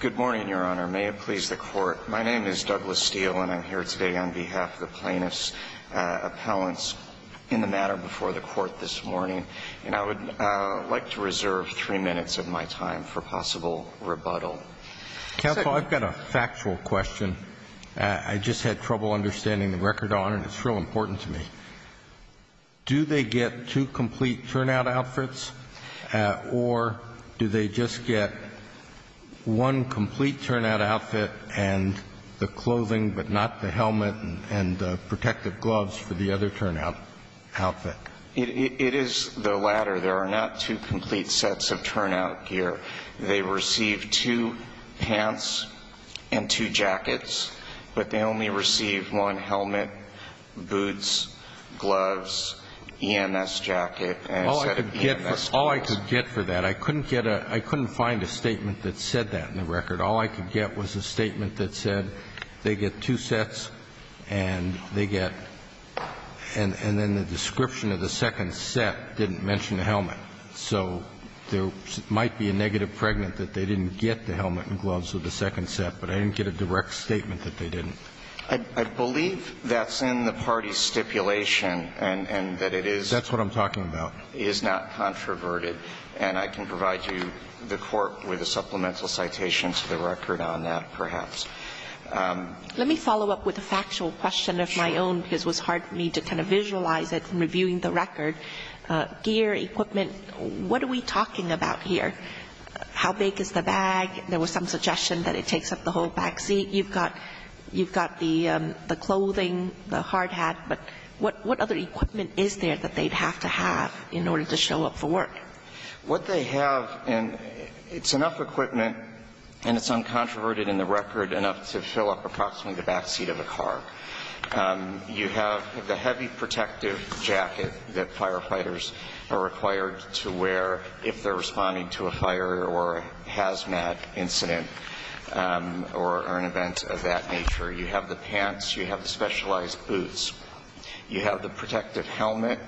Good morning, Your Honor. May it please the Court, my name is Douglas Steele and I'm here today on behalf of the plaintiffs' appellants in the matter before the Court this morning, and I would like to reserve three minutes of my time for possible rebuttal. Counsel, I've got a factual question. I just had trouble understanding the record, Your Honor, and it's real important to me. Do they get two complete turnout outfits, or do they just get one complete turnout outfit and the clothing but not the helmet and protective gloves for the other turnout outfit? It is the latter. There are not two complete sets of turnout gear. They receive two pants and two jackets, but they only receive one helmet, boots, gloves, EMS jacket. All I could get for that, I couldn't get a – I couldn't find a statement that said that in the record. All I could get was a statement that said they get two sets and they get – and then the description of the second set didn't mention the helmet. So there might be a negative pregnant that they didn't get the helmet and gloves with the second set, but I didn't get a direct statement that they didn't. I believe that's in the party's stipulation and that it is – That's what I'm talking about. – is not controverted. And I can provide you the court with a supplemental citation to the record on that, perhaps. Let me follow up with a factual question of my own because it was hard for me to kind of visualize it from reviewing the record. Gear, equipment, what are we talking about here? How big is the bag? There was some suggestion that it takes up the whole back seat. You've got the clothing, the hard hat, but what other equipment is there that they'd have to have in order to show up for work? What they have – and it's enough equipment, and it's uncontroverted in the record, enough to fill up approximately the back seat of a car. You have the heavy protective jacket that firefighters are required to wear if they're responding to a fire or a hazmat incident or an event of that nature. You have the pants. You have the specialized boots. You have the protective helmet.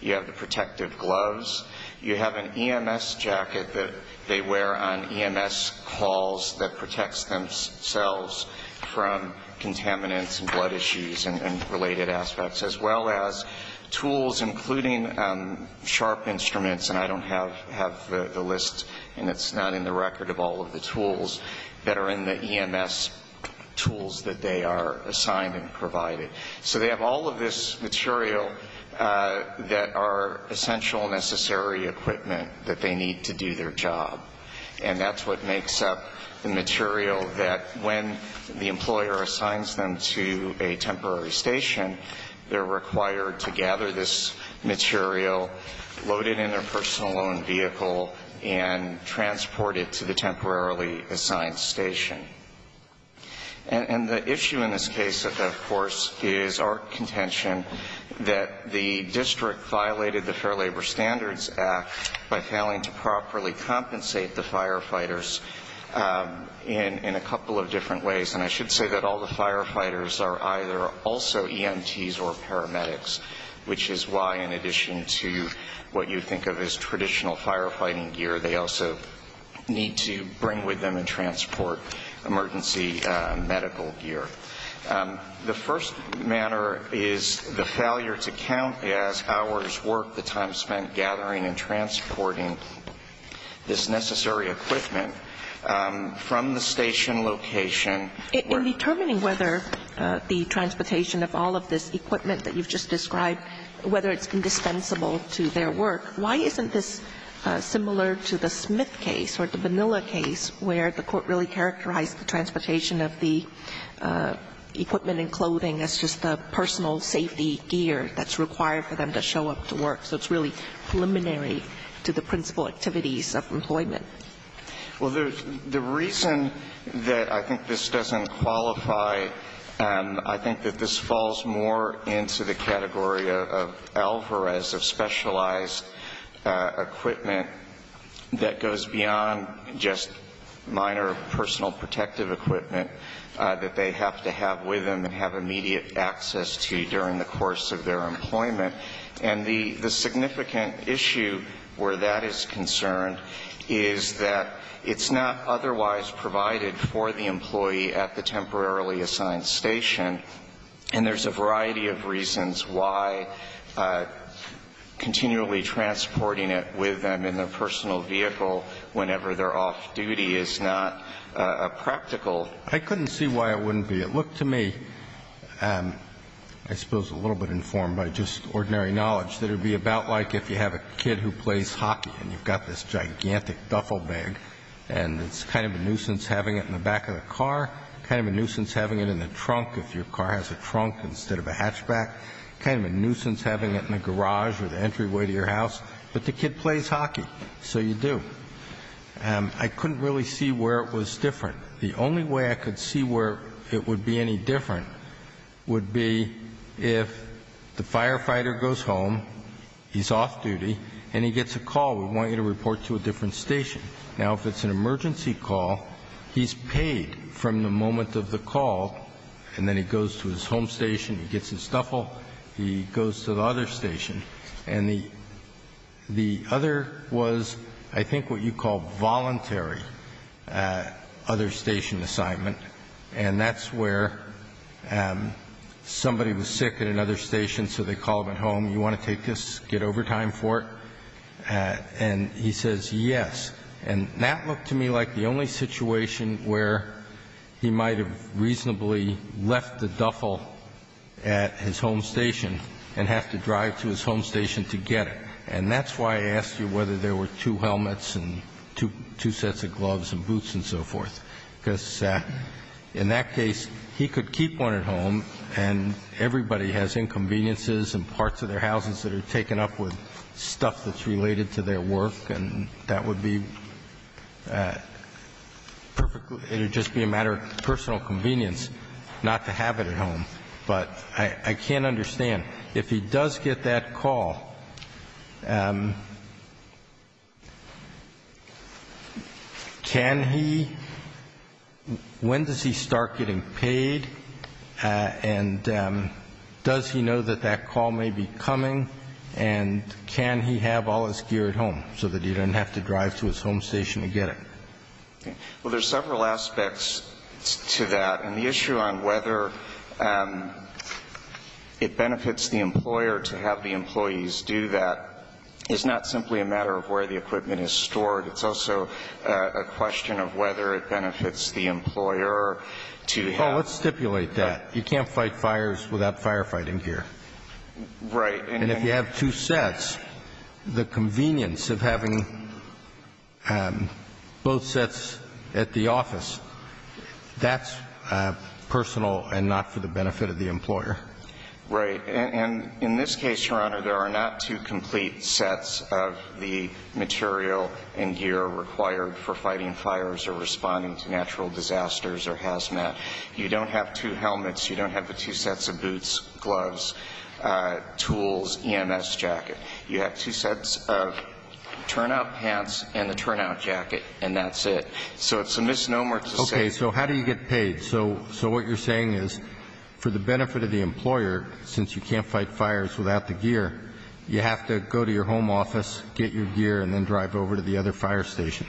You have the protective gloves. You have an EMS jacket that they wear on EMS calls that protects themselves from contaminants and blood issues and related aspects, as well as tools, including sharp instruments – and I don't have the list and it's not in the record of all of the tools that are in the EMS tools that they are assigned and provided. So they have all of this material that are essential, necessary equipment that they need to do their job. And that's what makes up the material that, when the employer assigns them to a temporary station, they're required to gather this material, load it in their personal loan vehicle, and transport it to the temporarily assigned station. And the issue in this case, of course, is our contention that the district violated the Fair Labor Standards Act by failing to properly compensate the firefighters in a couple of different ways. And I should say that all the firefighters are either also EMTs or paramedics, which is why, in addition to what you think of as traditional firefighting gear, they also need to bring with them and transport emergency medical gear. The first matter is the failure to count as hours worked, the time spent gathering and transporting this necessary equipment from the station location. In determining whether the transportation of all of this equipment that you've just described, whether it's indispensable to their work, why isn't this similar to the Smith case or the Vanilla case, where the court really characterized the transportation of the equipment and clothing as just the personal safety gear that's required for them to show up to work? So it's really preliminary to the principal activities of employment. Well, the reason that I think this doesn't qualify, I think that this falls more into the category of Alvarez, of specialized equipment that goes beyond just minor personal protective equipment that they have to have with them and have immediate access to during the course of their employment. And the significant issue where that is concerned is that it's not otherwise provided for the employee at the temporarily assigned station, and there's a variety of reasons why continually transporting it with them in their personal vehicle whenever they're off-duty is not practical. I couldn't see why it wouldn't be. It looked to me, I suppose a little bit informed by just ordinary knowledge, that it would be about like if you have a kid who plays hockey and you've got this gigantic duffel bag, and it's kind of a nuisance having it in the back of the car, kind of a nuisance having it in the trunk if your car has a trunk instead of a hatchback. Kind of a nuisance having it in the garage or the entryway to your house. But the kid plays hockey, so you do. And I couldn't really see where it was different. The only way I could see where it would be any different would be if the firefighter goes home, he's off-duty, and he gets a call, we want you to report to a different station. Now, if it's an emergency call, he's paid from the moment of the call, and then he goes to his home station, he gets his stuff, and then he goes home. He gets his duffel, he goes to the other station. And the other was, I think what you call voluntary, other station assignment. And that's where somebody was sick at another station, so they call him at home, you want to take this, get overtime for it? And he says yes. And that looked to me like the only situation where he might have reasonably left the duffel at his home station. And have to drive to his home station to get it. And that's why I asked you whether there were two helmets and two sets of gloves and boots and so forth. Because in that case, he could keep one at home, and everybody has inconveniences and parts of their houses that are taken up with stuff that's related to their work. And that would be perfectly, it would just be a matter of personal convenience not to have it at home. But I can't understand, if he does get that call, can he, when does he start getting paid, and does he know that that call may be coming, and can he have all his gear at home so that he doesn't have to drive to his home station to get it? Well, there's several aspects to that. And the issue on whether it benefits the employer to have the employees do that is not simply a matter of where the equipment is stored. It's also a question of whether it benefits the employer to have Oh, let's stipulate that. You can't fight fires without firefighting gear. Right. And if you have two sets, the convenience of having both sets at the office, that's personal and not for the benefit of the employer. Right. And in this case, Your Honor, there are not two complete sets of the material and gear required for fighting fires or responding to natural disasters or hazmat. You don't have two helmets. You don't have the two sets of boots, gloves, tools, EMS jacket. You have two sets of turnout pants and the turnout jacket, and that's it. So it's a misnomer to say Okay. So how do you get paid? So what you're saying is for the benefit of the employer, since you can't fight fires without the gear, you have to go to your home office, get your gear, and then drive over to the other fire station.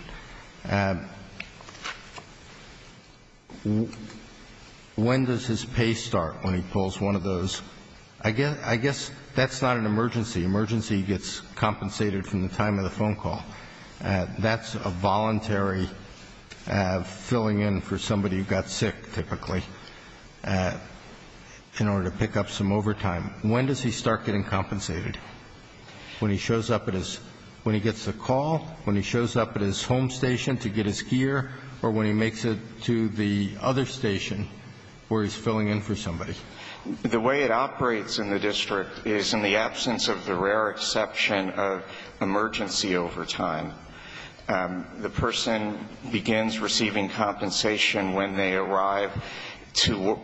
When does his pay start when he pulls one of those? I guess that's not an emergency. Emergency gets compensated from the time of the phone call. That's a voluntary filling in for somebody who got sick, typically, in order to pick up some overtime. When does he start getting compensated? When he shows up at his home station to get his gear or when he makes it to the other station where he's filling in for somebody? The way it operates in the district is in the absence of the rare exception of emergency overtime. The person begins receiving compensation when they arrive to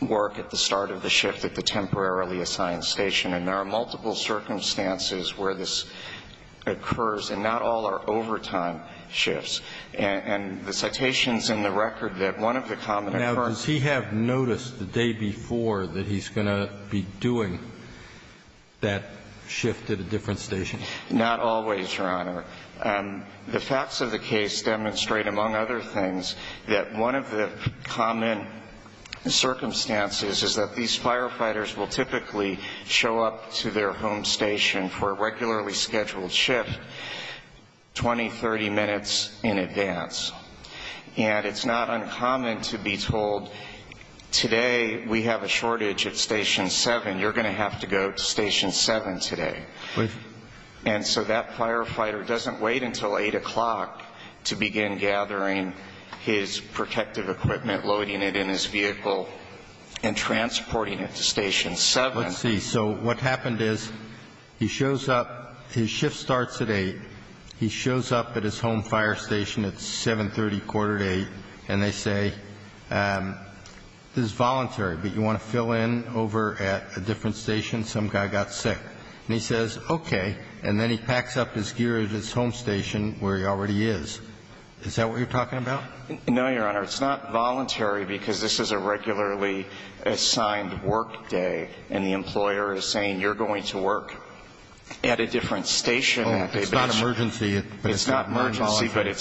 work at the start of the shift at the temporarily assigned station, and there are multiple circumstances where this occurs, and not all are overtime shifts. And the citations in the record that one of the common occurrences... Now, does he have notice the day before that he's going to be doing that shift at a different station? Not always, Your Honor. The facts of the case demonstrate, among other things, that one of the common circumstances is that these firefighters will typically show up to their home station for a regularly scheduled shift 20, 30 minutes in advance. And it's not uncommon to be told, today we have a shortage at Station 7, you're going to have to go to Station 7 today. And so that firefighter doesn't wait until 8 o'clock to begin gathering his protective equipment, loading it in his vehicle, and transporting it to Station 7. Let's see. So what happened is he shows up, his shift starts at 8, he shows up at his home fire station at 7, and he goes to Station 7. It's 7.30, quarter to 8, and they say, this is voluntary, but you want to fill in over at a different station, some guy got sick. And he says, okay, and then he packs up his gear at his home station, where he already is. Is that what you're talking about? No, Your Honor. It's not voluntary, because this is a regularly assigned work day, and the employer is saying, you're going to work at a different station. It's not emergency, but it's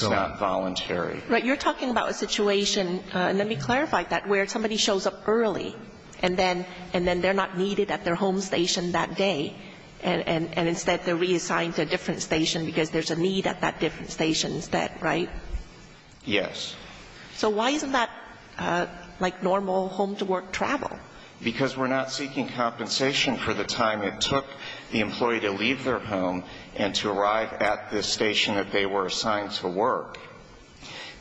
not voluntary. But you're talking about a situation, and let me clarify that, where somebody shows up early, and then they're not needed at their home station that day, and instead they're reassigned to a different station because there's a need at that different station instead, right? Yes. So why isn't that like normal home-to-work travel? Well, it's to arrive at the station that they were assigned to work.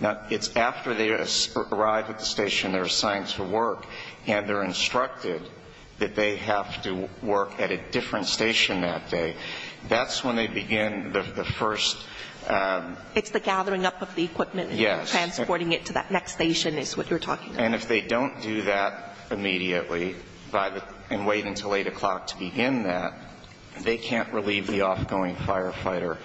Now, it's after they arrive at the station they're assigned to work, and they're instructed that they have to work at a different station that day. That's when they begin the first... It's the gathering up of the equipment and transporting it to that next station is what you're talking about. And if they don't do that immediately and wait until 8 o'clock to begin that, they can't relieve the off-going firefighter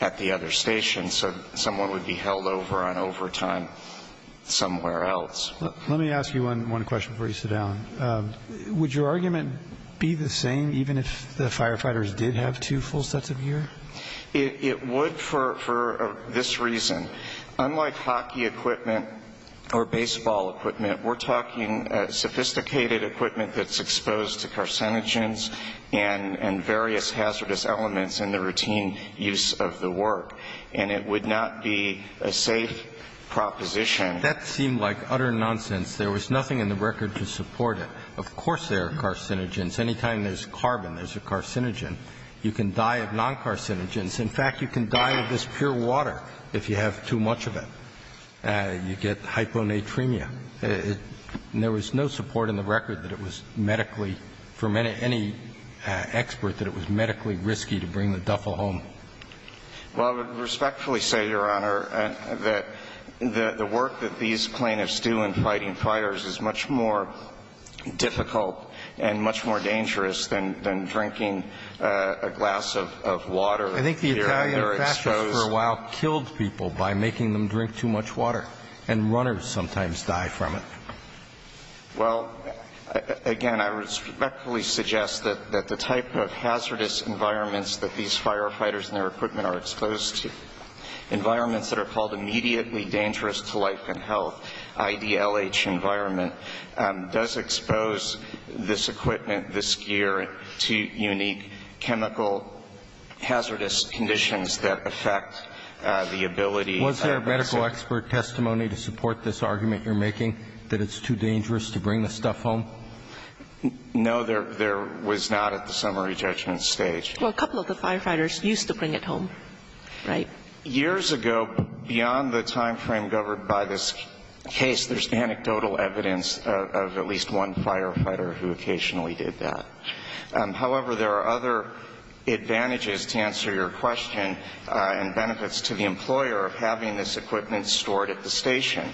at the other station, so someone would be held over on overtime somewhere else. Let me ask you one question before you sit down. Would your argument be the same even if the firefighters did have two full sets of gear? It would for this reason. Unlike hockey equipment or baseball equipment, we're talking sophisticated equipment that's exposed to carcinogens and various hazardous elements in the routine use of the work, and it would not be a safe proposition. That seemed like utter nonsense. There was nothing in the record to support it. Of course there are carcinogens. Any time there's carbon, there's a carcinogen. You can die of non-carcinogens. In fact, you can die of this pure water if you have too much of it. You get hyponatremia. There was no support in the record that it was medically, for any expert, that it was medically risky to bring the duffel home. Well, I would respectfully say, Your Honor, that the work that these plaintiffs do in fighting fires is much more difficult and much more dangerous than drinking a glass of water here under exposed. The firefighters for a while killed people by making them drink too much water. And runners sometimes die from it. Well, again, I respectfully suggest that the type of hazardous environments that these firefighters and their equipment are exposed to, environments that are called immediately dangerous to life and health, IDLH environment, does expose this equipment, this gear, to unique chemical hazardous conditions that affect people. It does affect the ability. Was there a medical expert testimony to support this argument you're making, that it's too dangerous to bring the stuff home? No, there was not at the summary judgment stage. Well, a couple of the firefighters used to bring it home, right? Years ago, beyond the time frame governed by this case, there's anecdotal evidence of at least one firefighter who occasionally did that. However, there are other advantages, to answer your question, and benefits to the employer of having this equipment stored at the station.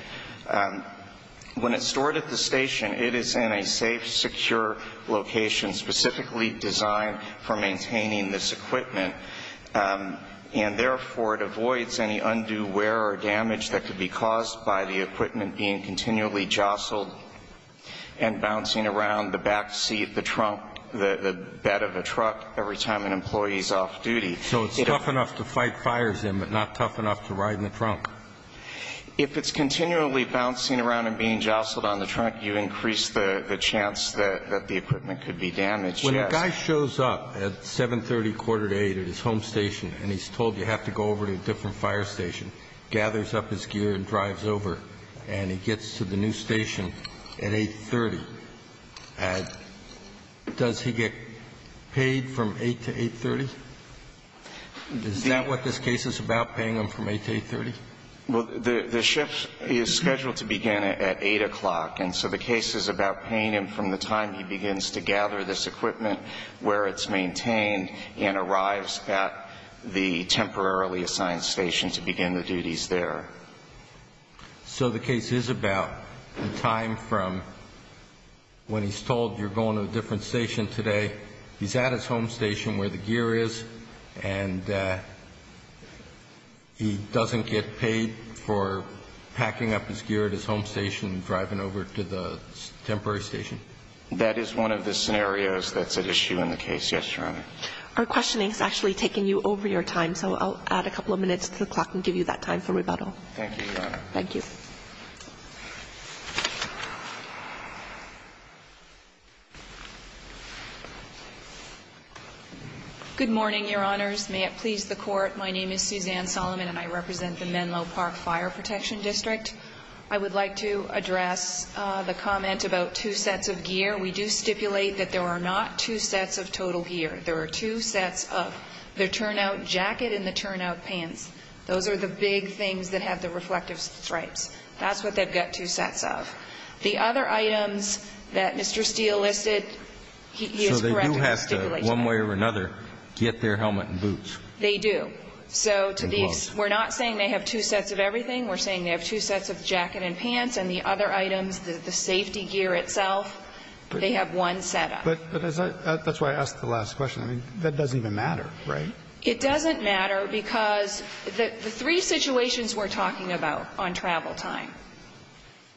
When it's stored at the station, it is in a safe, secure location, specifically designed for maintaining this equipment. And therefore, it avoids any undue wear or damage that could be caused by the equipment being continually jostled and bouncing around the back seat, the trunk, the back of the vehicle. The bed of a truck, every time an employee's off-duty. So it's tough enough to fight fires in, but not tough enough to ride in the trunk? If it's continually bouncing around and being jostled on the trunk, you increase the chance that the equipment could be damaged, yes. When a guy shows up at 7.30, quarter to 8, at his home station, and he's told you have to go over to a different fire station, gathers up his gear and drives over, and he gets to the new station at 8.30, does he get a warning? Does he get paid from 8 to 8.30? Is that what this case is about, paying him from 8 to 8.30? Well, the shift is scheduled to begin at 8 o'clock, and so the case is about paying him from the time he begins to gather this equipment, where it's maintained, and arrives at the temporarily assigned station to begin the duties there. So the case is about the time from when he's told you're going to a different station today, he's at his home station where the gear is, and he doesn't get paid for packing up his gear at his home station and driving over to the temporary station? That is one of the scenarios that's at issue in the case, yes, Your Honor. Our questioning has actually taken you over your time, so I'll add a couple of minutes to the clock and give you that time for rebuttal. Thank you, Your Honor. Good morning, Your Honors. May it please the Court, my name is Suzanne Solomon and I represent the Menlo Park Fire Protection District. I would like to address the comment about two sets of gear. We do stipulate that there are not two sets of total gear. There are two sets of the turnout jacket and the turnout pants. Those are the big things that have the reflective stripes. That's what they've got two sets of. The other items that Mr. Steele listed, he is correct in stipulating that. So they do have to, one way or another, get their helmet and boots. They do. So to these, we're not saying they have two sets of everything. We're saying they have two sets of jacket and pants, and the other items, the safety gear itself, they have one set up. But that's why I asked the last question. I mean, that doesn't even matter, right? It doesn't matter because the three situations we're talking about on travel time,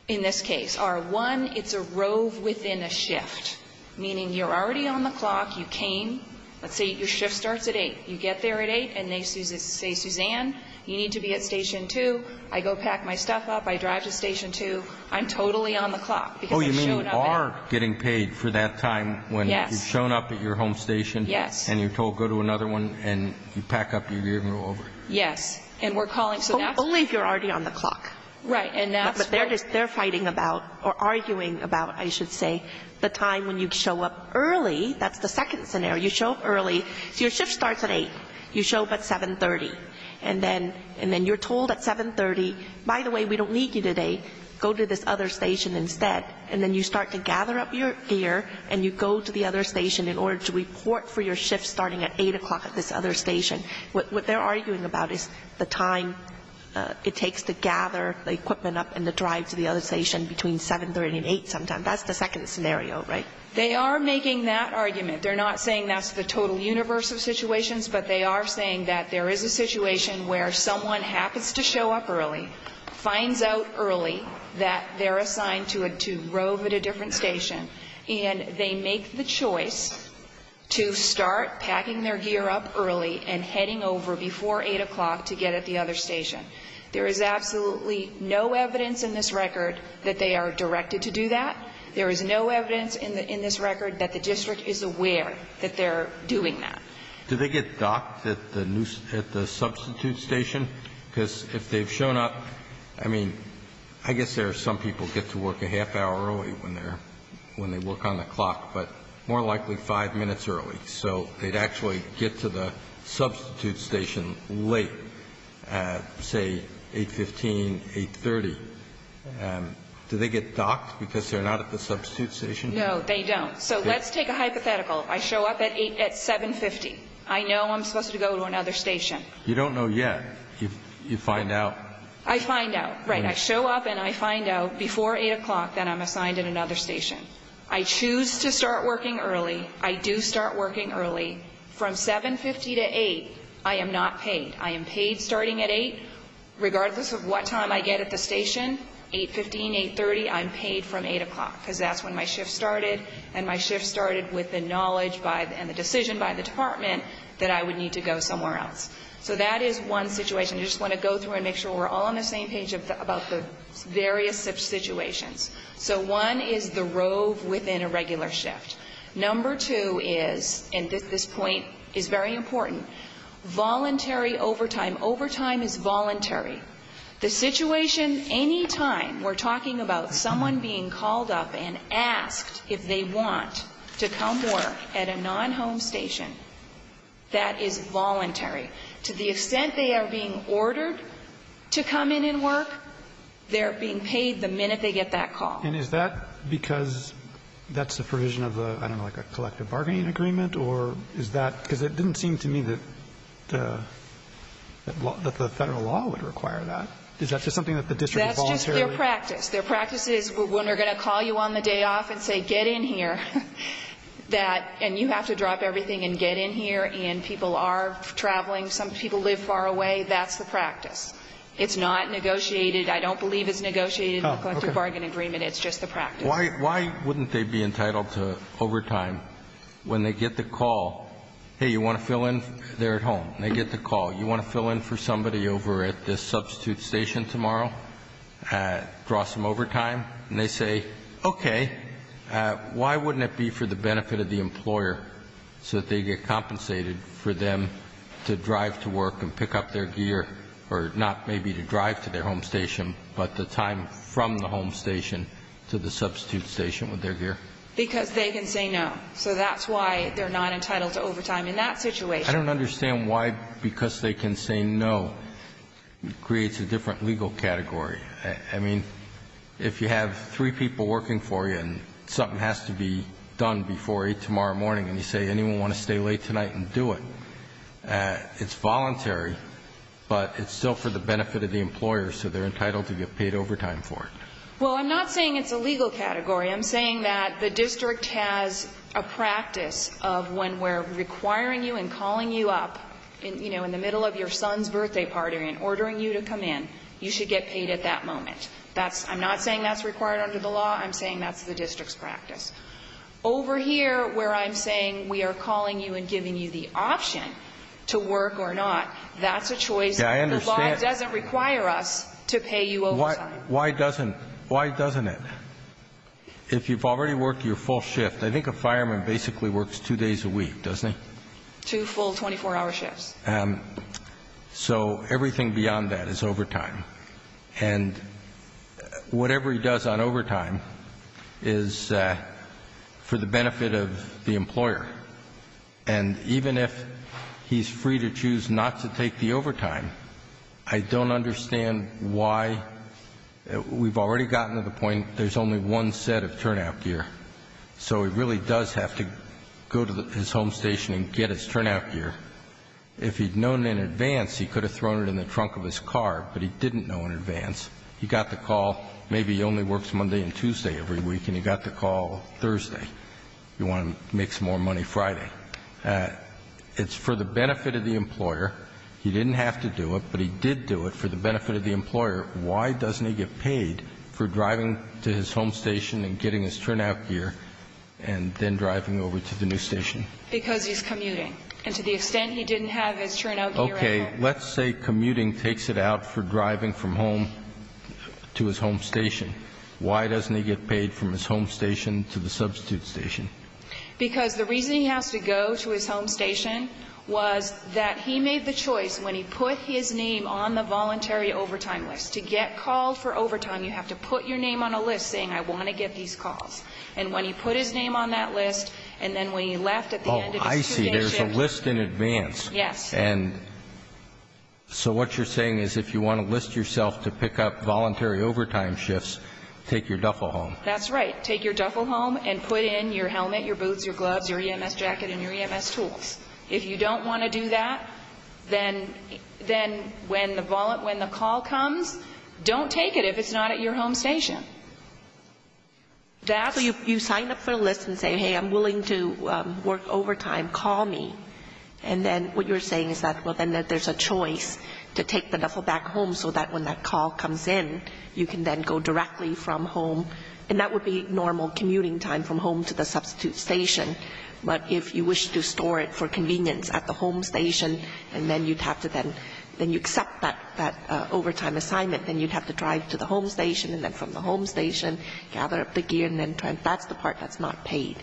in this case, are one, it's a rove within a shift, meaning you're already on the clock. You came. Let's say your shift starts at 8. You get there at 8 and they say, Suzanne, you need to be at Station 2. I go pack my stuff up. I drive to Station 2. I'm totally on the clock because I've shown up at 8. Oh, you mean you are getting paid for that time when you've shown up at your home station. Yes. And you're told go to another one and you pack up your gear and go over. Yes. And we're calling. Only if you're already on the clock. Right. But they're fighting about or arguing about, I should say, the time when you show up early. That's the second scenario. You show up early. So your shift starts at 8. You show up at 7.30. And then you're told at 7.30, by the way, we don't need you today. Go to this other station instead. And then you start to gather up your gear and you go to the other station in order to report for your shift starting at 8 o'clock at this other station. What they're arguing about is the time it takes to gather the equipment up and to drive to the other station between 7.30 and 8 sometime. That's the second scenario, right? They are making that argument. They're not saying that's the total universe of situations, but they are saying that there is a situation where someone happens to show up early, finds out early that they're assigned to rove at a different station, and they make the choice to start packing their gear up early and heading over before 8 o'clock to get at the other station. There is absolutely no evidence in this record that they are directed to do that. There is no evidence in this record that the district is aware that they're doing that. Do they get docked at the substitute station? Because if they've shown up, I mean, I guess there are some people who get to work a half hour early when they're when they work on the clock, but more likely five minutes early. So they'd actually get to the substitute station late, say, 8.15, 8.30. Do they get docked because they're not at the substitute station? No, they don't. So let's take a hypothetical. I show up at 7.50. I know I'm supposed to go to another station. You don't know yet. You find out. I find out, right. I show up, and I find out before 8 o'clock that I'm assigned at another station. I choose to start working early. I do start working early. From 7.50 to 8, I am not paid. I am paid starting at 8. Regardless of what time I get at the station, 8.15, 8.30, I'm paid from 8 o'clock because that's when my shift started, and my shift started with the knowledge and the decision by the department that I would need to go somewhere else. So that is one situation. I just want to go through and make sure we're all on the same page about the various situations. So one is the rove within a regular shift. Number two is, and this point is very important, voluntary overtime. Overtime is voluntary. The situation any time we're talking about someone being called up and asked if they want to come work at a non-home station, that is voluntary. To the extent they are being ordered to come in and work, they're being paid the minute they get that call. And is that because that's the provision of the, I don't know, like a collective bargaining agreement, or is that because it didn't seem to me that the Federal law would require that? Is that just something that the district voluntarily? That's just their practice. Their practice is when they're going to call you on the day off and say get in here, that, and you have to drop everything and get in here, and people are traveling. Some people live far away. That's the practice. It's not negotiated. I don't believe it's negotiated in the collective bargaining agreement. It's just the practice. Why wouldn't they be entitled to overtime when they get the call, hey, you want to fill in there at home? They get the call. You want to fill in for somebody over at this substitute station tomorrow? Draw some overtime? And they say, okay. Why wouldn't it be for the benefit of the employer so that they get compensated for them to drive to work and pick up their gear, or not maybe to drive to their home station, but the time from the home station to the substitute station with their gear? Because they can say no. So that's why they're not entitled to overtime in that situation. I don't understand why because they can say no creates a different legal category. I mean, if you have three people working for you and something has to be done before 8 tomorrow morning, and you say anyone want to stay late tonight and do it, it's voluntary, but it's still for the benefit of the employer, so they're entitled to get paid overtime for it. Well, I'm not saying it's a legal category. I'm saying that the district has a practice of when we're requiring you and calling you up, you know, in the middle of your son's birthday party and ordering you to come in, you should get paid at that moment. I'm not saying that's required under the law. I'm saying that's the district's practice. Over here, where I'm saying we are calling you and giving you the option to work or not, that's a choice that the law doesn't require us to pay you overtime. Why doesn't it? If you've already worked your full shift, I think a fireman basically works two days a week, doesn't he? Two full 24-hour shifts. So everything beyond that is overtime. And whatever he does on overtime is for the benefit of the employer. And even if he's free to choose not to take the overtime, I don't understand why we've already gotten to the point there's only one set of turnout gear. So he really does have to go to his home station and get his turnout gear. If he'd known in advance, he could have thrown it in the trunk of his car, but he didn't know in advance. He got the call, maybe he only works Monday and Tuesday every week, and he got the call Thursday. You want to make some more money Friday. It's for the benefit of the employer. He didn't have to do it, but he did do it for the benefit of the employer. Why doesn't he get paid for driving to his home station and getting his turnout gear and then driving over to the new station? Because he's commuting. And to the extent he didn't have his turnout gear at home. Okay. Let's say commuting takes it out for driving from home to his home station. Why doesn't he get paid from his home station to the substitute station? Because the reason he has to go to his home station was that he made the choice when he put his name on the voluntary overtime list. To get called for overtime, you have to put your name on a list saying, I want to get these calls. And when he put his name on that list, and then when he left at the end of his two-day shift. Oh, I see. There's a list in advance. Yes. And so what you're saying is if you want to list yourself to pick up voluntary overtime shifts, take your duffel home. That's right. Take your duffel home and put in your helmet, your boots, your gloves, your EMS jacket, and your EMS tools. If you don't want to do that, then when the call comes, don't take it if it's not at your home station. So you sign up for a list and say, hey, I'm willing to work overtime. Call me. And then what you're saying is that, well, then there's a choice to take the duffel back home so that when that call comes in, you can then go directly from home. And that would be normal commuting time from home to the substitute station. But if you wish to store it for convenience at the home station, and then you'd have to then accept that overtime assignment, then you'd have to drive to the home station, and then from the home station gather up the gear, and then that's the part that's not paid.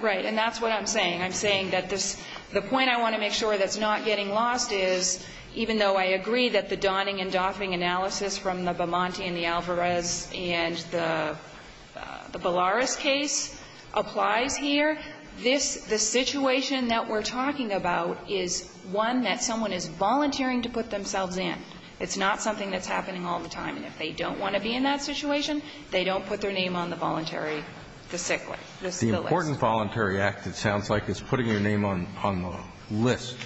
Right. And that's what I'm saying. I'm saying that the point I want to make sure that's not getting lost is, even though I agree that the donning and doffing analysis from the Bamonte and the Alvarez and the Ballaras case applies here, this, the situation that we're talking about is one that someone is volunteering to put themselves in. It's not something that's happening all the time. And if they don't want to be in that situation, they don't put their name on the voluntary, the sick list, the list. The important voluntary act, it sounds like, is putting your name on the list,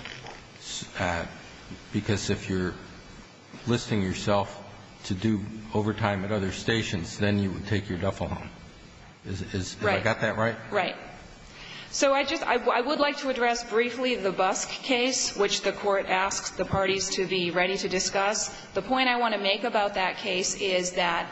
because if you're listing yourself to do overtime at other stations, then you would take your duffel home. Is that right? Right. Right. So I just, I would like to address briefly the Busk case, which the Court asks the parties to be ready to discuss. The point I want to make about that case is that,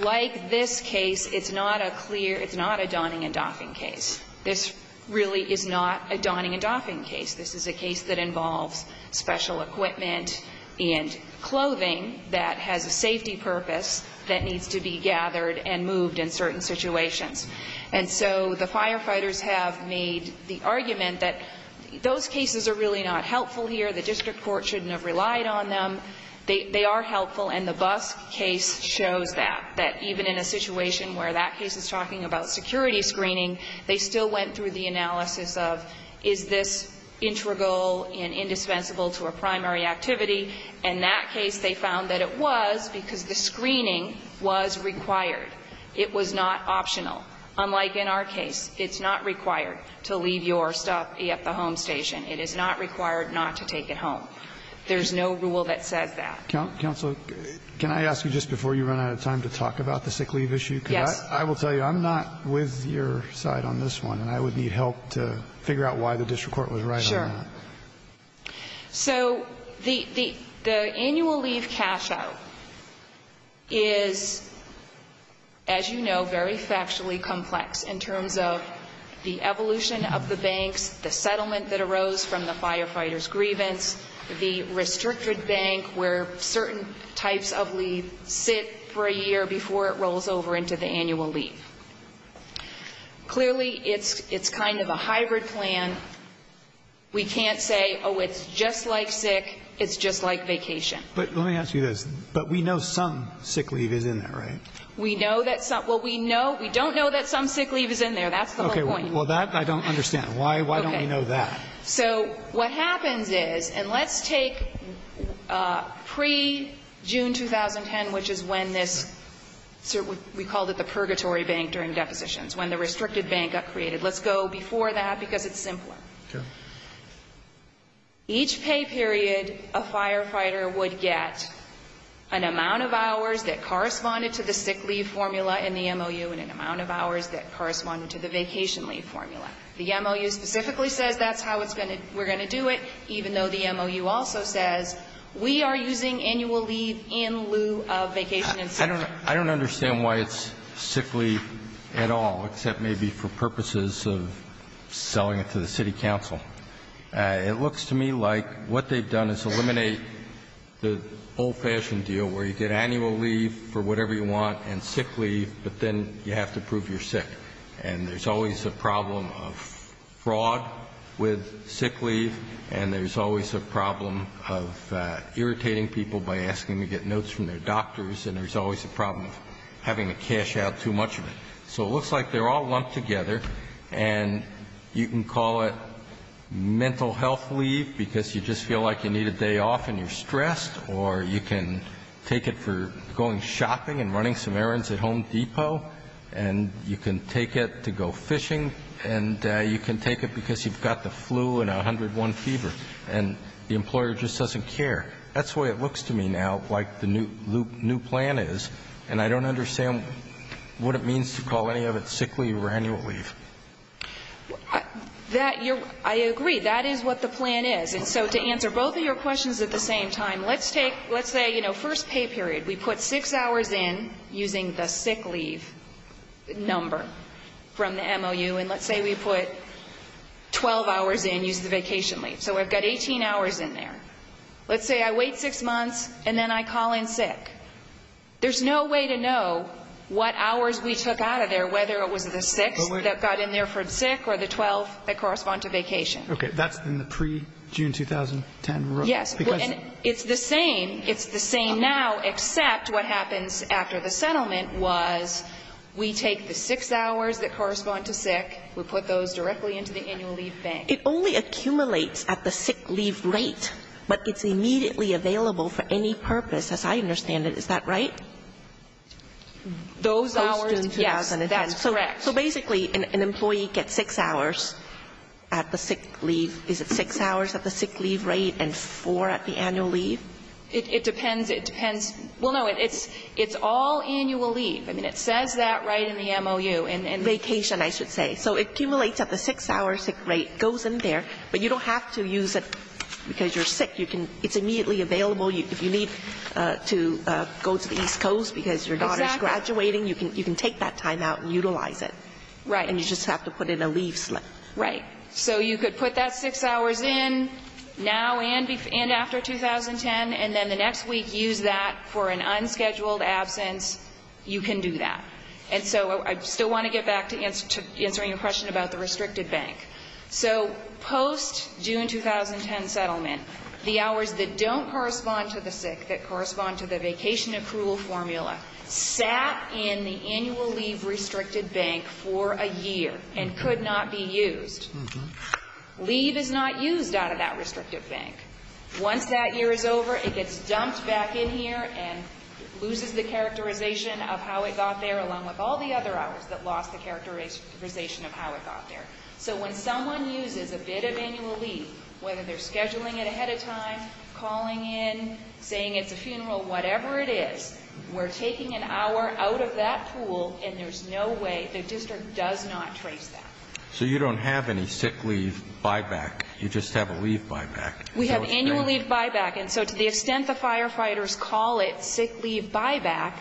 like this case, it's not a clear, it's not a donning and doffing case. This really is not a donning and doffing case. This is a case that involves special equipment and clothing that has a safety purpose that needs to be gathered and moved in certain situations. And so the firefighters have made the argument that those cases are really not helpful here, the district court shouldn't have relied on them. They are helpful, and the Busk case shows that, that even in a situation where that case is talking about security screening, they still went through the analysis of is this integral and indispensable to a primary activity. In that case, they found that it was because the screening was required. It was not optional. Unlike in our case, it's not required to leave your stuff at the home station. It is not required not to take it home. There's no rule that says that. Counsel, can I ask you, just before you run out of time, to talk about the sick leave issue? Yes. I will tell you, I'm not with your side on this one, and I would need help to figure out why the district court was right on that. Sure. So the annual leave cash-out is, as you know, very factually complex in terms of the evolution of the banks, the settlement that arose from the firefighters' grievance, the restricted bank where certain types of leave sit for a year before it rolls over into the annual leave. Clearly, it's kind of a hybrid plan. We can't say, oh, it's just like sick, it's just like vacation. But let me ask you this. But we know some sick leave is in there, right? We know that some – well, we don't know that some sick leave is in there. That's the whole point. Okay. Well, that I don't understand. Why don't we know that? So what happens is, and let's take pre-June 2010, which is when this – we called it the purgatory bank during depositions, when the restricted bank got created. Let's go before that because it's simpler. Okay. Each pay period, a firefighter would get an amount of hours that corresponded to the sick leave formula in the MOU and an amount of hours that corresponded to the vacation leave formula. The MOU specifically says that's how we're going to do it, even though the MOU also says we are using annual leave in lieu of vacation and sick leave. I don't understand why it's sick leave at all, except maybe for purposes of selling it to the city council. It looks to me like what they've done is eliminate the old-fashioned deal where you get annual leave for whatever you want and sick leave, but then you have to prove you're sick. And there's always a problem of fraud with sick leave and there's always a problem of irritating people by asking to get notes from their doctors and there's always a problem of having to cash out too much of it. So it looks like they're all lumped together, and you can call it mental health leave because you just feel like you need a day off and you're stressed, or you can take it for going shopping and running some errands at Home Depot, and you can take it to go fishing, and you can take it because you've got the flu and 101 fever and the employer just doesn't care. That's the way it looks to me now, like the new plan is, and I don't understand what it means to call any of it sick leave or annual leave. I agree. That is what the plan is. And so to answer both of your questions at the same time, let's say, you know, first pay period. We put six hours in using the sick leave number from the MOU, and let's say we put 12 hours in using the vacation leave. So we've got 18 hours in there. Let's say I wait six months and then I call in sick. There's no way to know what hours we took out of there, whether it was the six that got in there for sick or the 12 that correspond to vacation. Okay. That's in the pre-June 2010 rule? Yes. It's the same. It's the same now, except what happens after the settlement was we take the six hours that correspond to sick. We put those directly into the annual leave bank. It only accumulates at the sick leave rate, but it's immediately available for any purpose, as I understand it. Is that right? Those hours, yes. That's correct. So basically an employee gets six hours at the sick leave. Is it six hours at the sick leave rate and four at the annual leave? It depends. It depends. Well, no, it's all annual leave. I mean, it says that right in the MOU. Vacation, I should say. So it accumulates at the six-hour sick rate, goes in there, but you don't have to use it because you're sick. It's immediately available. If you need to go to the East Coast because your daughter's graduating, you can take that time out and utilize it. Right. And you just have to put in a leave slip. Right. So you could put that six hours in now and after 2010, and then the next week use that for an unscheduled absence. You can do that. And so I still want to get back to answering your question about the restricted bank. So post-June 2010 settlement, the hours that don't correspond to the sick, that correspond to the vacation accrual formula, sat in the annual leave restricted bank for a year and could not be used. Leave is not used out of that restricted bank. Once that year is over, it gets dumped back in here and loses the characterization of how it got there, along with all the other hours that lost the characterization of how it got there. So when someone uses a bit of annual leave, whether they're scheduling it ahead of time, calling in, saying it's a funeral, whatever it is, we're taking an hour out of that pool and there's no way, the district does not trace that. So you don't have any sick leave buyback. You just have a leave buyback. We have annual leave buyback. And so to the extent the firefighters call it sick leave buyback,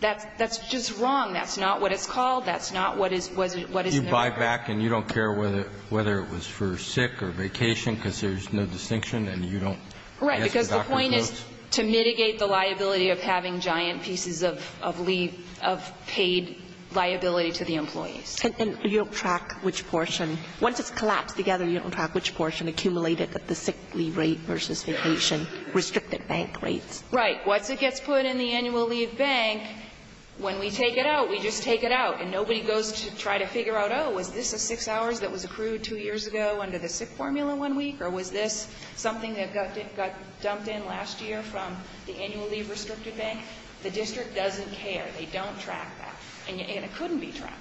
that's just wrong. That's not what it's called. That's not what is in the record. You buy back and you don't care whether it was for sick or vacation because there's no distinction and you don't ask the doctor's notes? Right, because the point is to mitigate the liability of having giant pieces of leave, of paid liability to the employees. And you don't track which portion. Once it's collapsed together, you don't track which portion accumulated at the sick leave rate versus vacation restricted bank rates. Right. Once it gets put in the annual leave bank, when we take it out, we just take it out and nobody goes to try to figure out, oh, was this a 6 hours that was accrued two years ago under the sick formula one week, or was this something that got dumped in last year from the annual leave restricted bank? The district doesn't care. They don't track that. And it couldn't be tracked.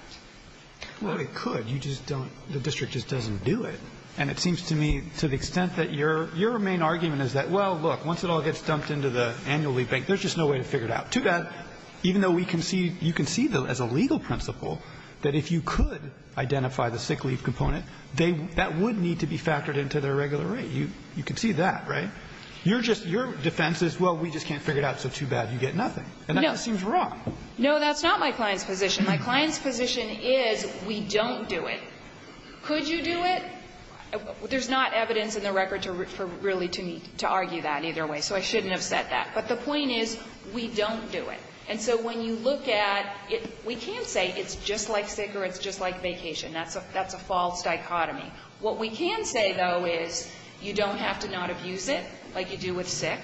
Well, it could. You just don't. The district just doesn't do it. And it seems to me to the extent that your main argument is that, well, look, once it all gets dumped into the annual leave bank, there's just no way to figure it out. Too bad. Even though we can see, you can see as a legal principle that if you could identify the sick leave component, they, that would need to be factored into their regular rate. You can see that, right? You're just, your defense is, well, we just can't figure it out, so too bad. You get nothing. And that just seems wrong. No, that's not my client's position. My client's position is we don't do it. Could you do it? There's not evidence in the record to really to argue that either way, so I shouldn't have said that. But the point is, we don't do it. And so when you look at, we can't say it's just like sick or it's just like vacation. That's a false dichotomy. What we can say, though, is you don't have to not abuse it like you do with sick.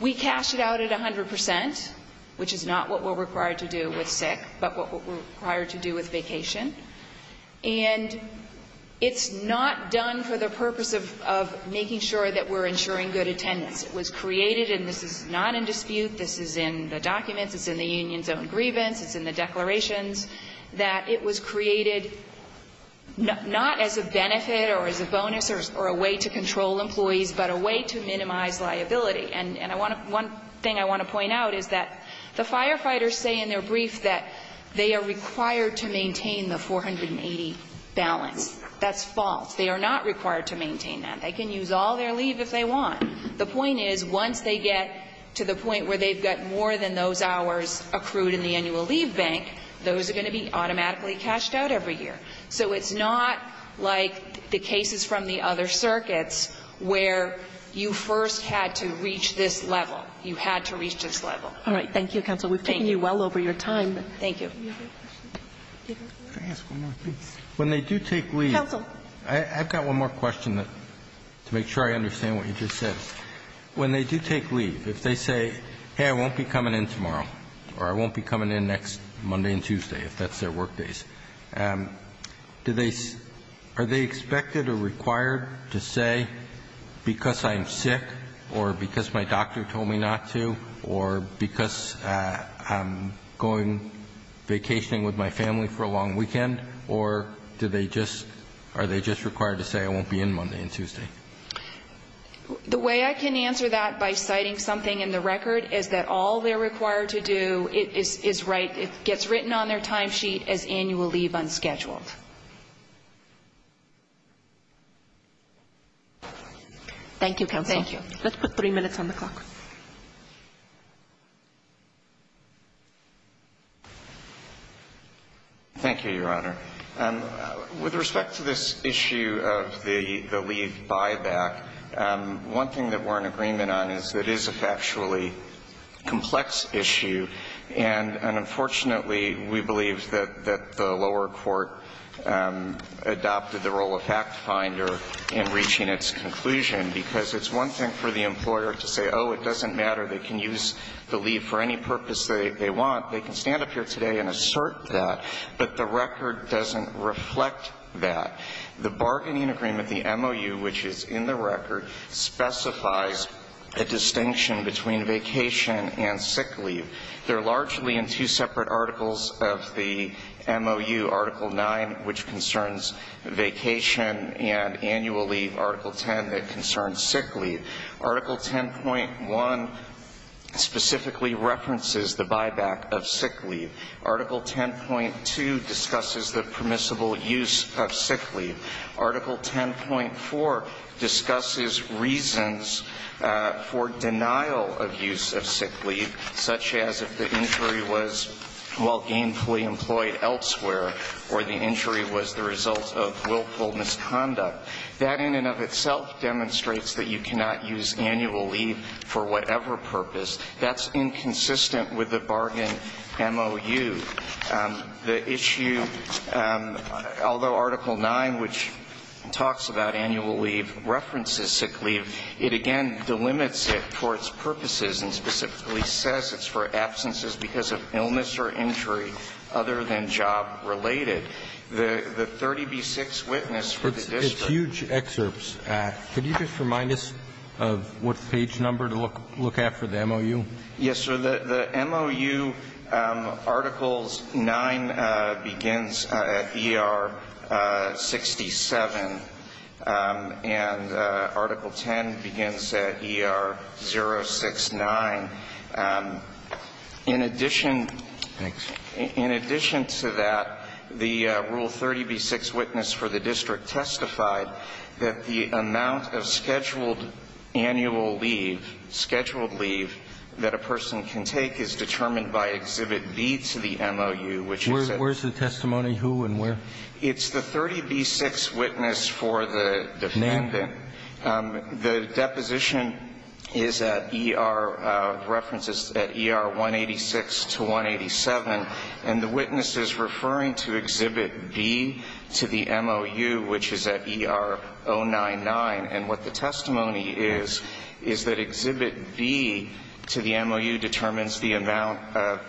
We cash it out at 100 percent, which is not what we're required to do with sick, but what we're required to do with vacation. And it's not done for the purpose of making sure that we're ensuring good attendance. It was created, and this is not in dispute. This is in the documents. It's in the union's own grievance. It's in the declarations, that it was created not as a benefit or as a bonus or a way to control employees, but a way to minimize liability. And I want to, one thing I want to point out is that the firefighters say in their brief that they are required to maintain the 480 balance. That's false. They are not required to maintain that. They can use all their leave if they want. The point is, once they get to the point where they've got more than those hours accrued in the annual leave bank, those are going to be automatically cashed out every year. So it's not like the cases from the other circuits where you first had to reach this level. You had to reach this level. All right. Thank you, counsel. We've taken you well over your time. Thank you. Can I ask one more thing? When they do take leave. Counsel. I've got one more question to make sure I understand what you just said. When they do take leave, if they say, hey, I won't be coming in tomorrow or I won't be coming in next Monday and Tuesday, if that's their work days, do they, are they expected or required to say, because I'm sick or because my doctor told me not to or because I'm going vacationing with my family for a long weekend or do they just are they just required to say I won't be in Monday and Tuesday? The way I can answer that by citing something in the record is that all they're required to do is write, it gets written on their time sheet as annual leave unscheduled. Thank you, counsel. Thank you. Let's put three minutes on the clock. Thank you, Your Honor. With respect to this issue of the leave buyback, one thing that we're in agreement on is that it is a factually complex issue and unfortunately we believe that the lower court adopted the role of fact finder in reaching its conclusion because it's one thing for the employer to say, oh, it doesn't matter, they can use the leave for any purpose they want. They can stand up here today and assert that. But the record doesn't reflect that. The bargaining agreement, the MOU, which is in the record, specifies a distinction between vacation and sick leave. They're largely in two separate articles of the MOU, Article 9, which concerns vacation and annual leave, Article 10, that concerns sick leave. Article 10.1 specifically references the buyback of sick leave. Article 10.2 discusses the permissible use of sick leave. Article 10.4 discusses reasons for denial of use of sick leave, such as if the injury was while gainfully employed elsewhere or the injury was the result of willful misconduct. That in and of itself demonstrates that you cannot use annual leave for whatever purpose. That's inconsistent with the bargain MOU. The issue, although Article 9, which talks about annual leave, references sick leave, it again delimits it for its purposes and specifically says it's for absences because of illness or injury other than job related. The 30b6 witness for the district. The huge excerpts. Could you just remind us of what page number to look at for the MOU? Yes, sir. The MOU, Articles 9 begins at ER 67 and Article 10 begins at ER 069. In addition. Thanks. In addition to that, the rule 30b6 witness for the district testified that the amount of scheduled annual leave, scheduled leave, that a person can take is determined by Exhibit B to the MOU. Where is the testimony? Who and where? It's the 30b6 witness for the defendant. The deposition is at ER, references at ER 186 to 187. And the witness is referring to Exhibit B to the MOU, which is at ER 099. And what the testimony is, is that Exhibit B to the MOU determines the amount of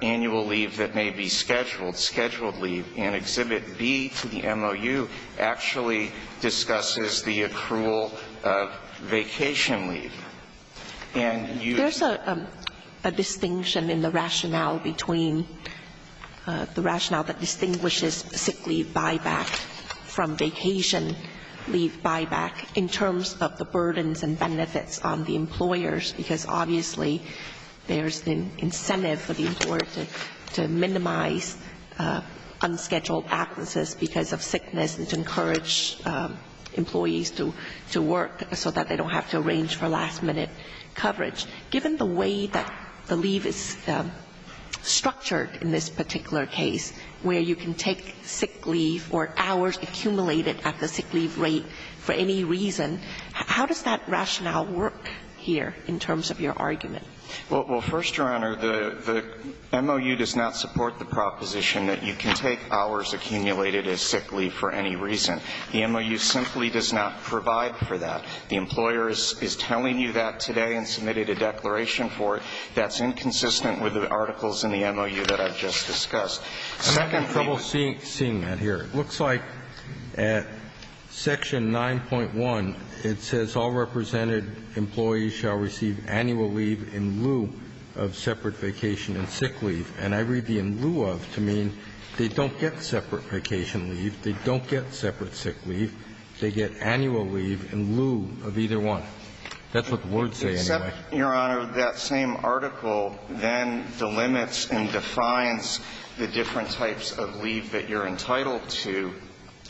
annual leave that may be scheduled, scheduled leave. And Exhibit B to the MOU actually discusses the accrual of vacation leave. And you. There's a distinction in the rationale between the rationale that distinguishes sick leave buyback from vacation leave buyback in terms of the burdens and benefits on the employers. Because, obviously, there's an incentive for the employer to minimize unscheduled absences because of sickness and to encourage employees to work so that they don't have to arrange for last-minute coverage. Given the way that the leave is structured in this particular case, where you can take sick leave or hours accumulated at the sick leave rate for any reason, how does that rationale work here in terms of your argument? Well, first, Your Honor, the MOU does not support the proposition that you can take hours accumulated as sick leave for any reason. The MOU simply does not provide for that. The employer is telling you that today and submitted a declaration for it. That's inconsistent with the articles in the MOU that I've just discussed. I'm having trouble seeing that here. It looks like at section 9.1, it says, All represented employees shall receive annual leave in lieu of separate vacation and sick leave. And I read the in lieu of to mean they don't get separate vacation leave, they don't get separate sick leave, they get annual leave in lieu of either one. That's what the words say anyway. Except, Your Honor, that same article then delimits and defines the different types of leave that you're entitled to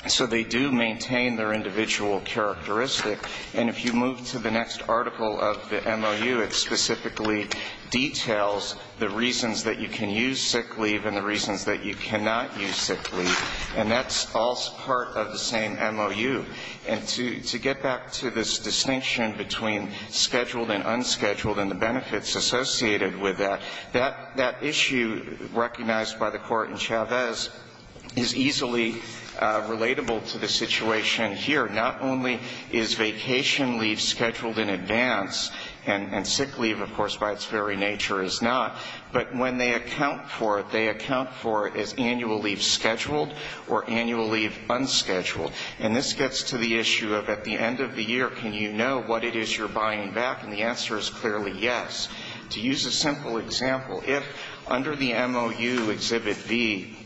so they do maintain their individual characteristic. And if you move to the next article of the MOU, it specifically details the reasons that you can use sick leave and the reasons that you cannot use sick leave. And that's all part of the same MOU. And to get back to this distinction between scheduled and unscheduled and the is easily relatable to the situation here. Not only is vacation leave scheduled in advance, and sick leave, of course, by its very nature is not, but when they account for it, they account for it as annual leave scheduled or annual leave unscheduled. And this gets to the issue of at the end of the year, can you know what it is you're buying back? And the answer is clearly yes. To use a simple example, if under the MOU Exhibit V,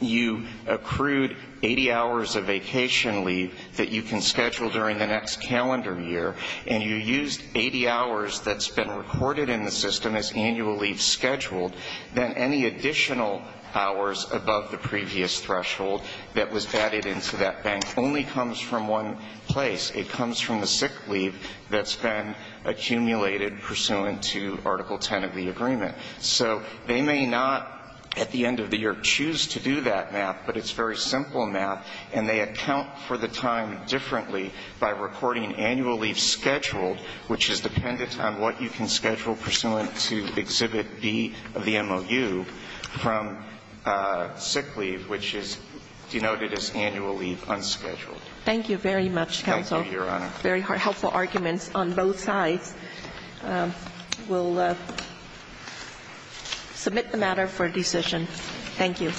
you accrued 80 hours of vacation leave that you can schedule during the next calendar year, and you used 80 hours that's been recorded in the system as annual leave scheduled, then any additional hours above the previous threshold that was added into that bank only comes from one place. It comes from the sick leave that's been accumulated pursuant to Article 10 of the agreement. So they may not at the end of the year choose to do that math, but it's very simple math, and they account for the time differently by recording annual leave scheduled, which is dependent on what you can schedule pursuant to Exhibit V of the MOU, from sick leave, which is denoted as annual leave unscheduled. Thank you very much, counsel. Thank you, Your Honor. Very helpful arguments on both sides. We'll submit the matter for decision. Thank you.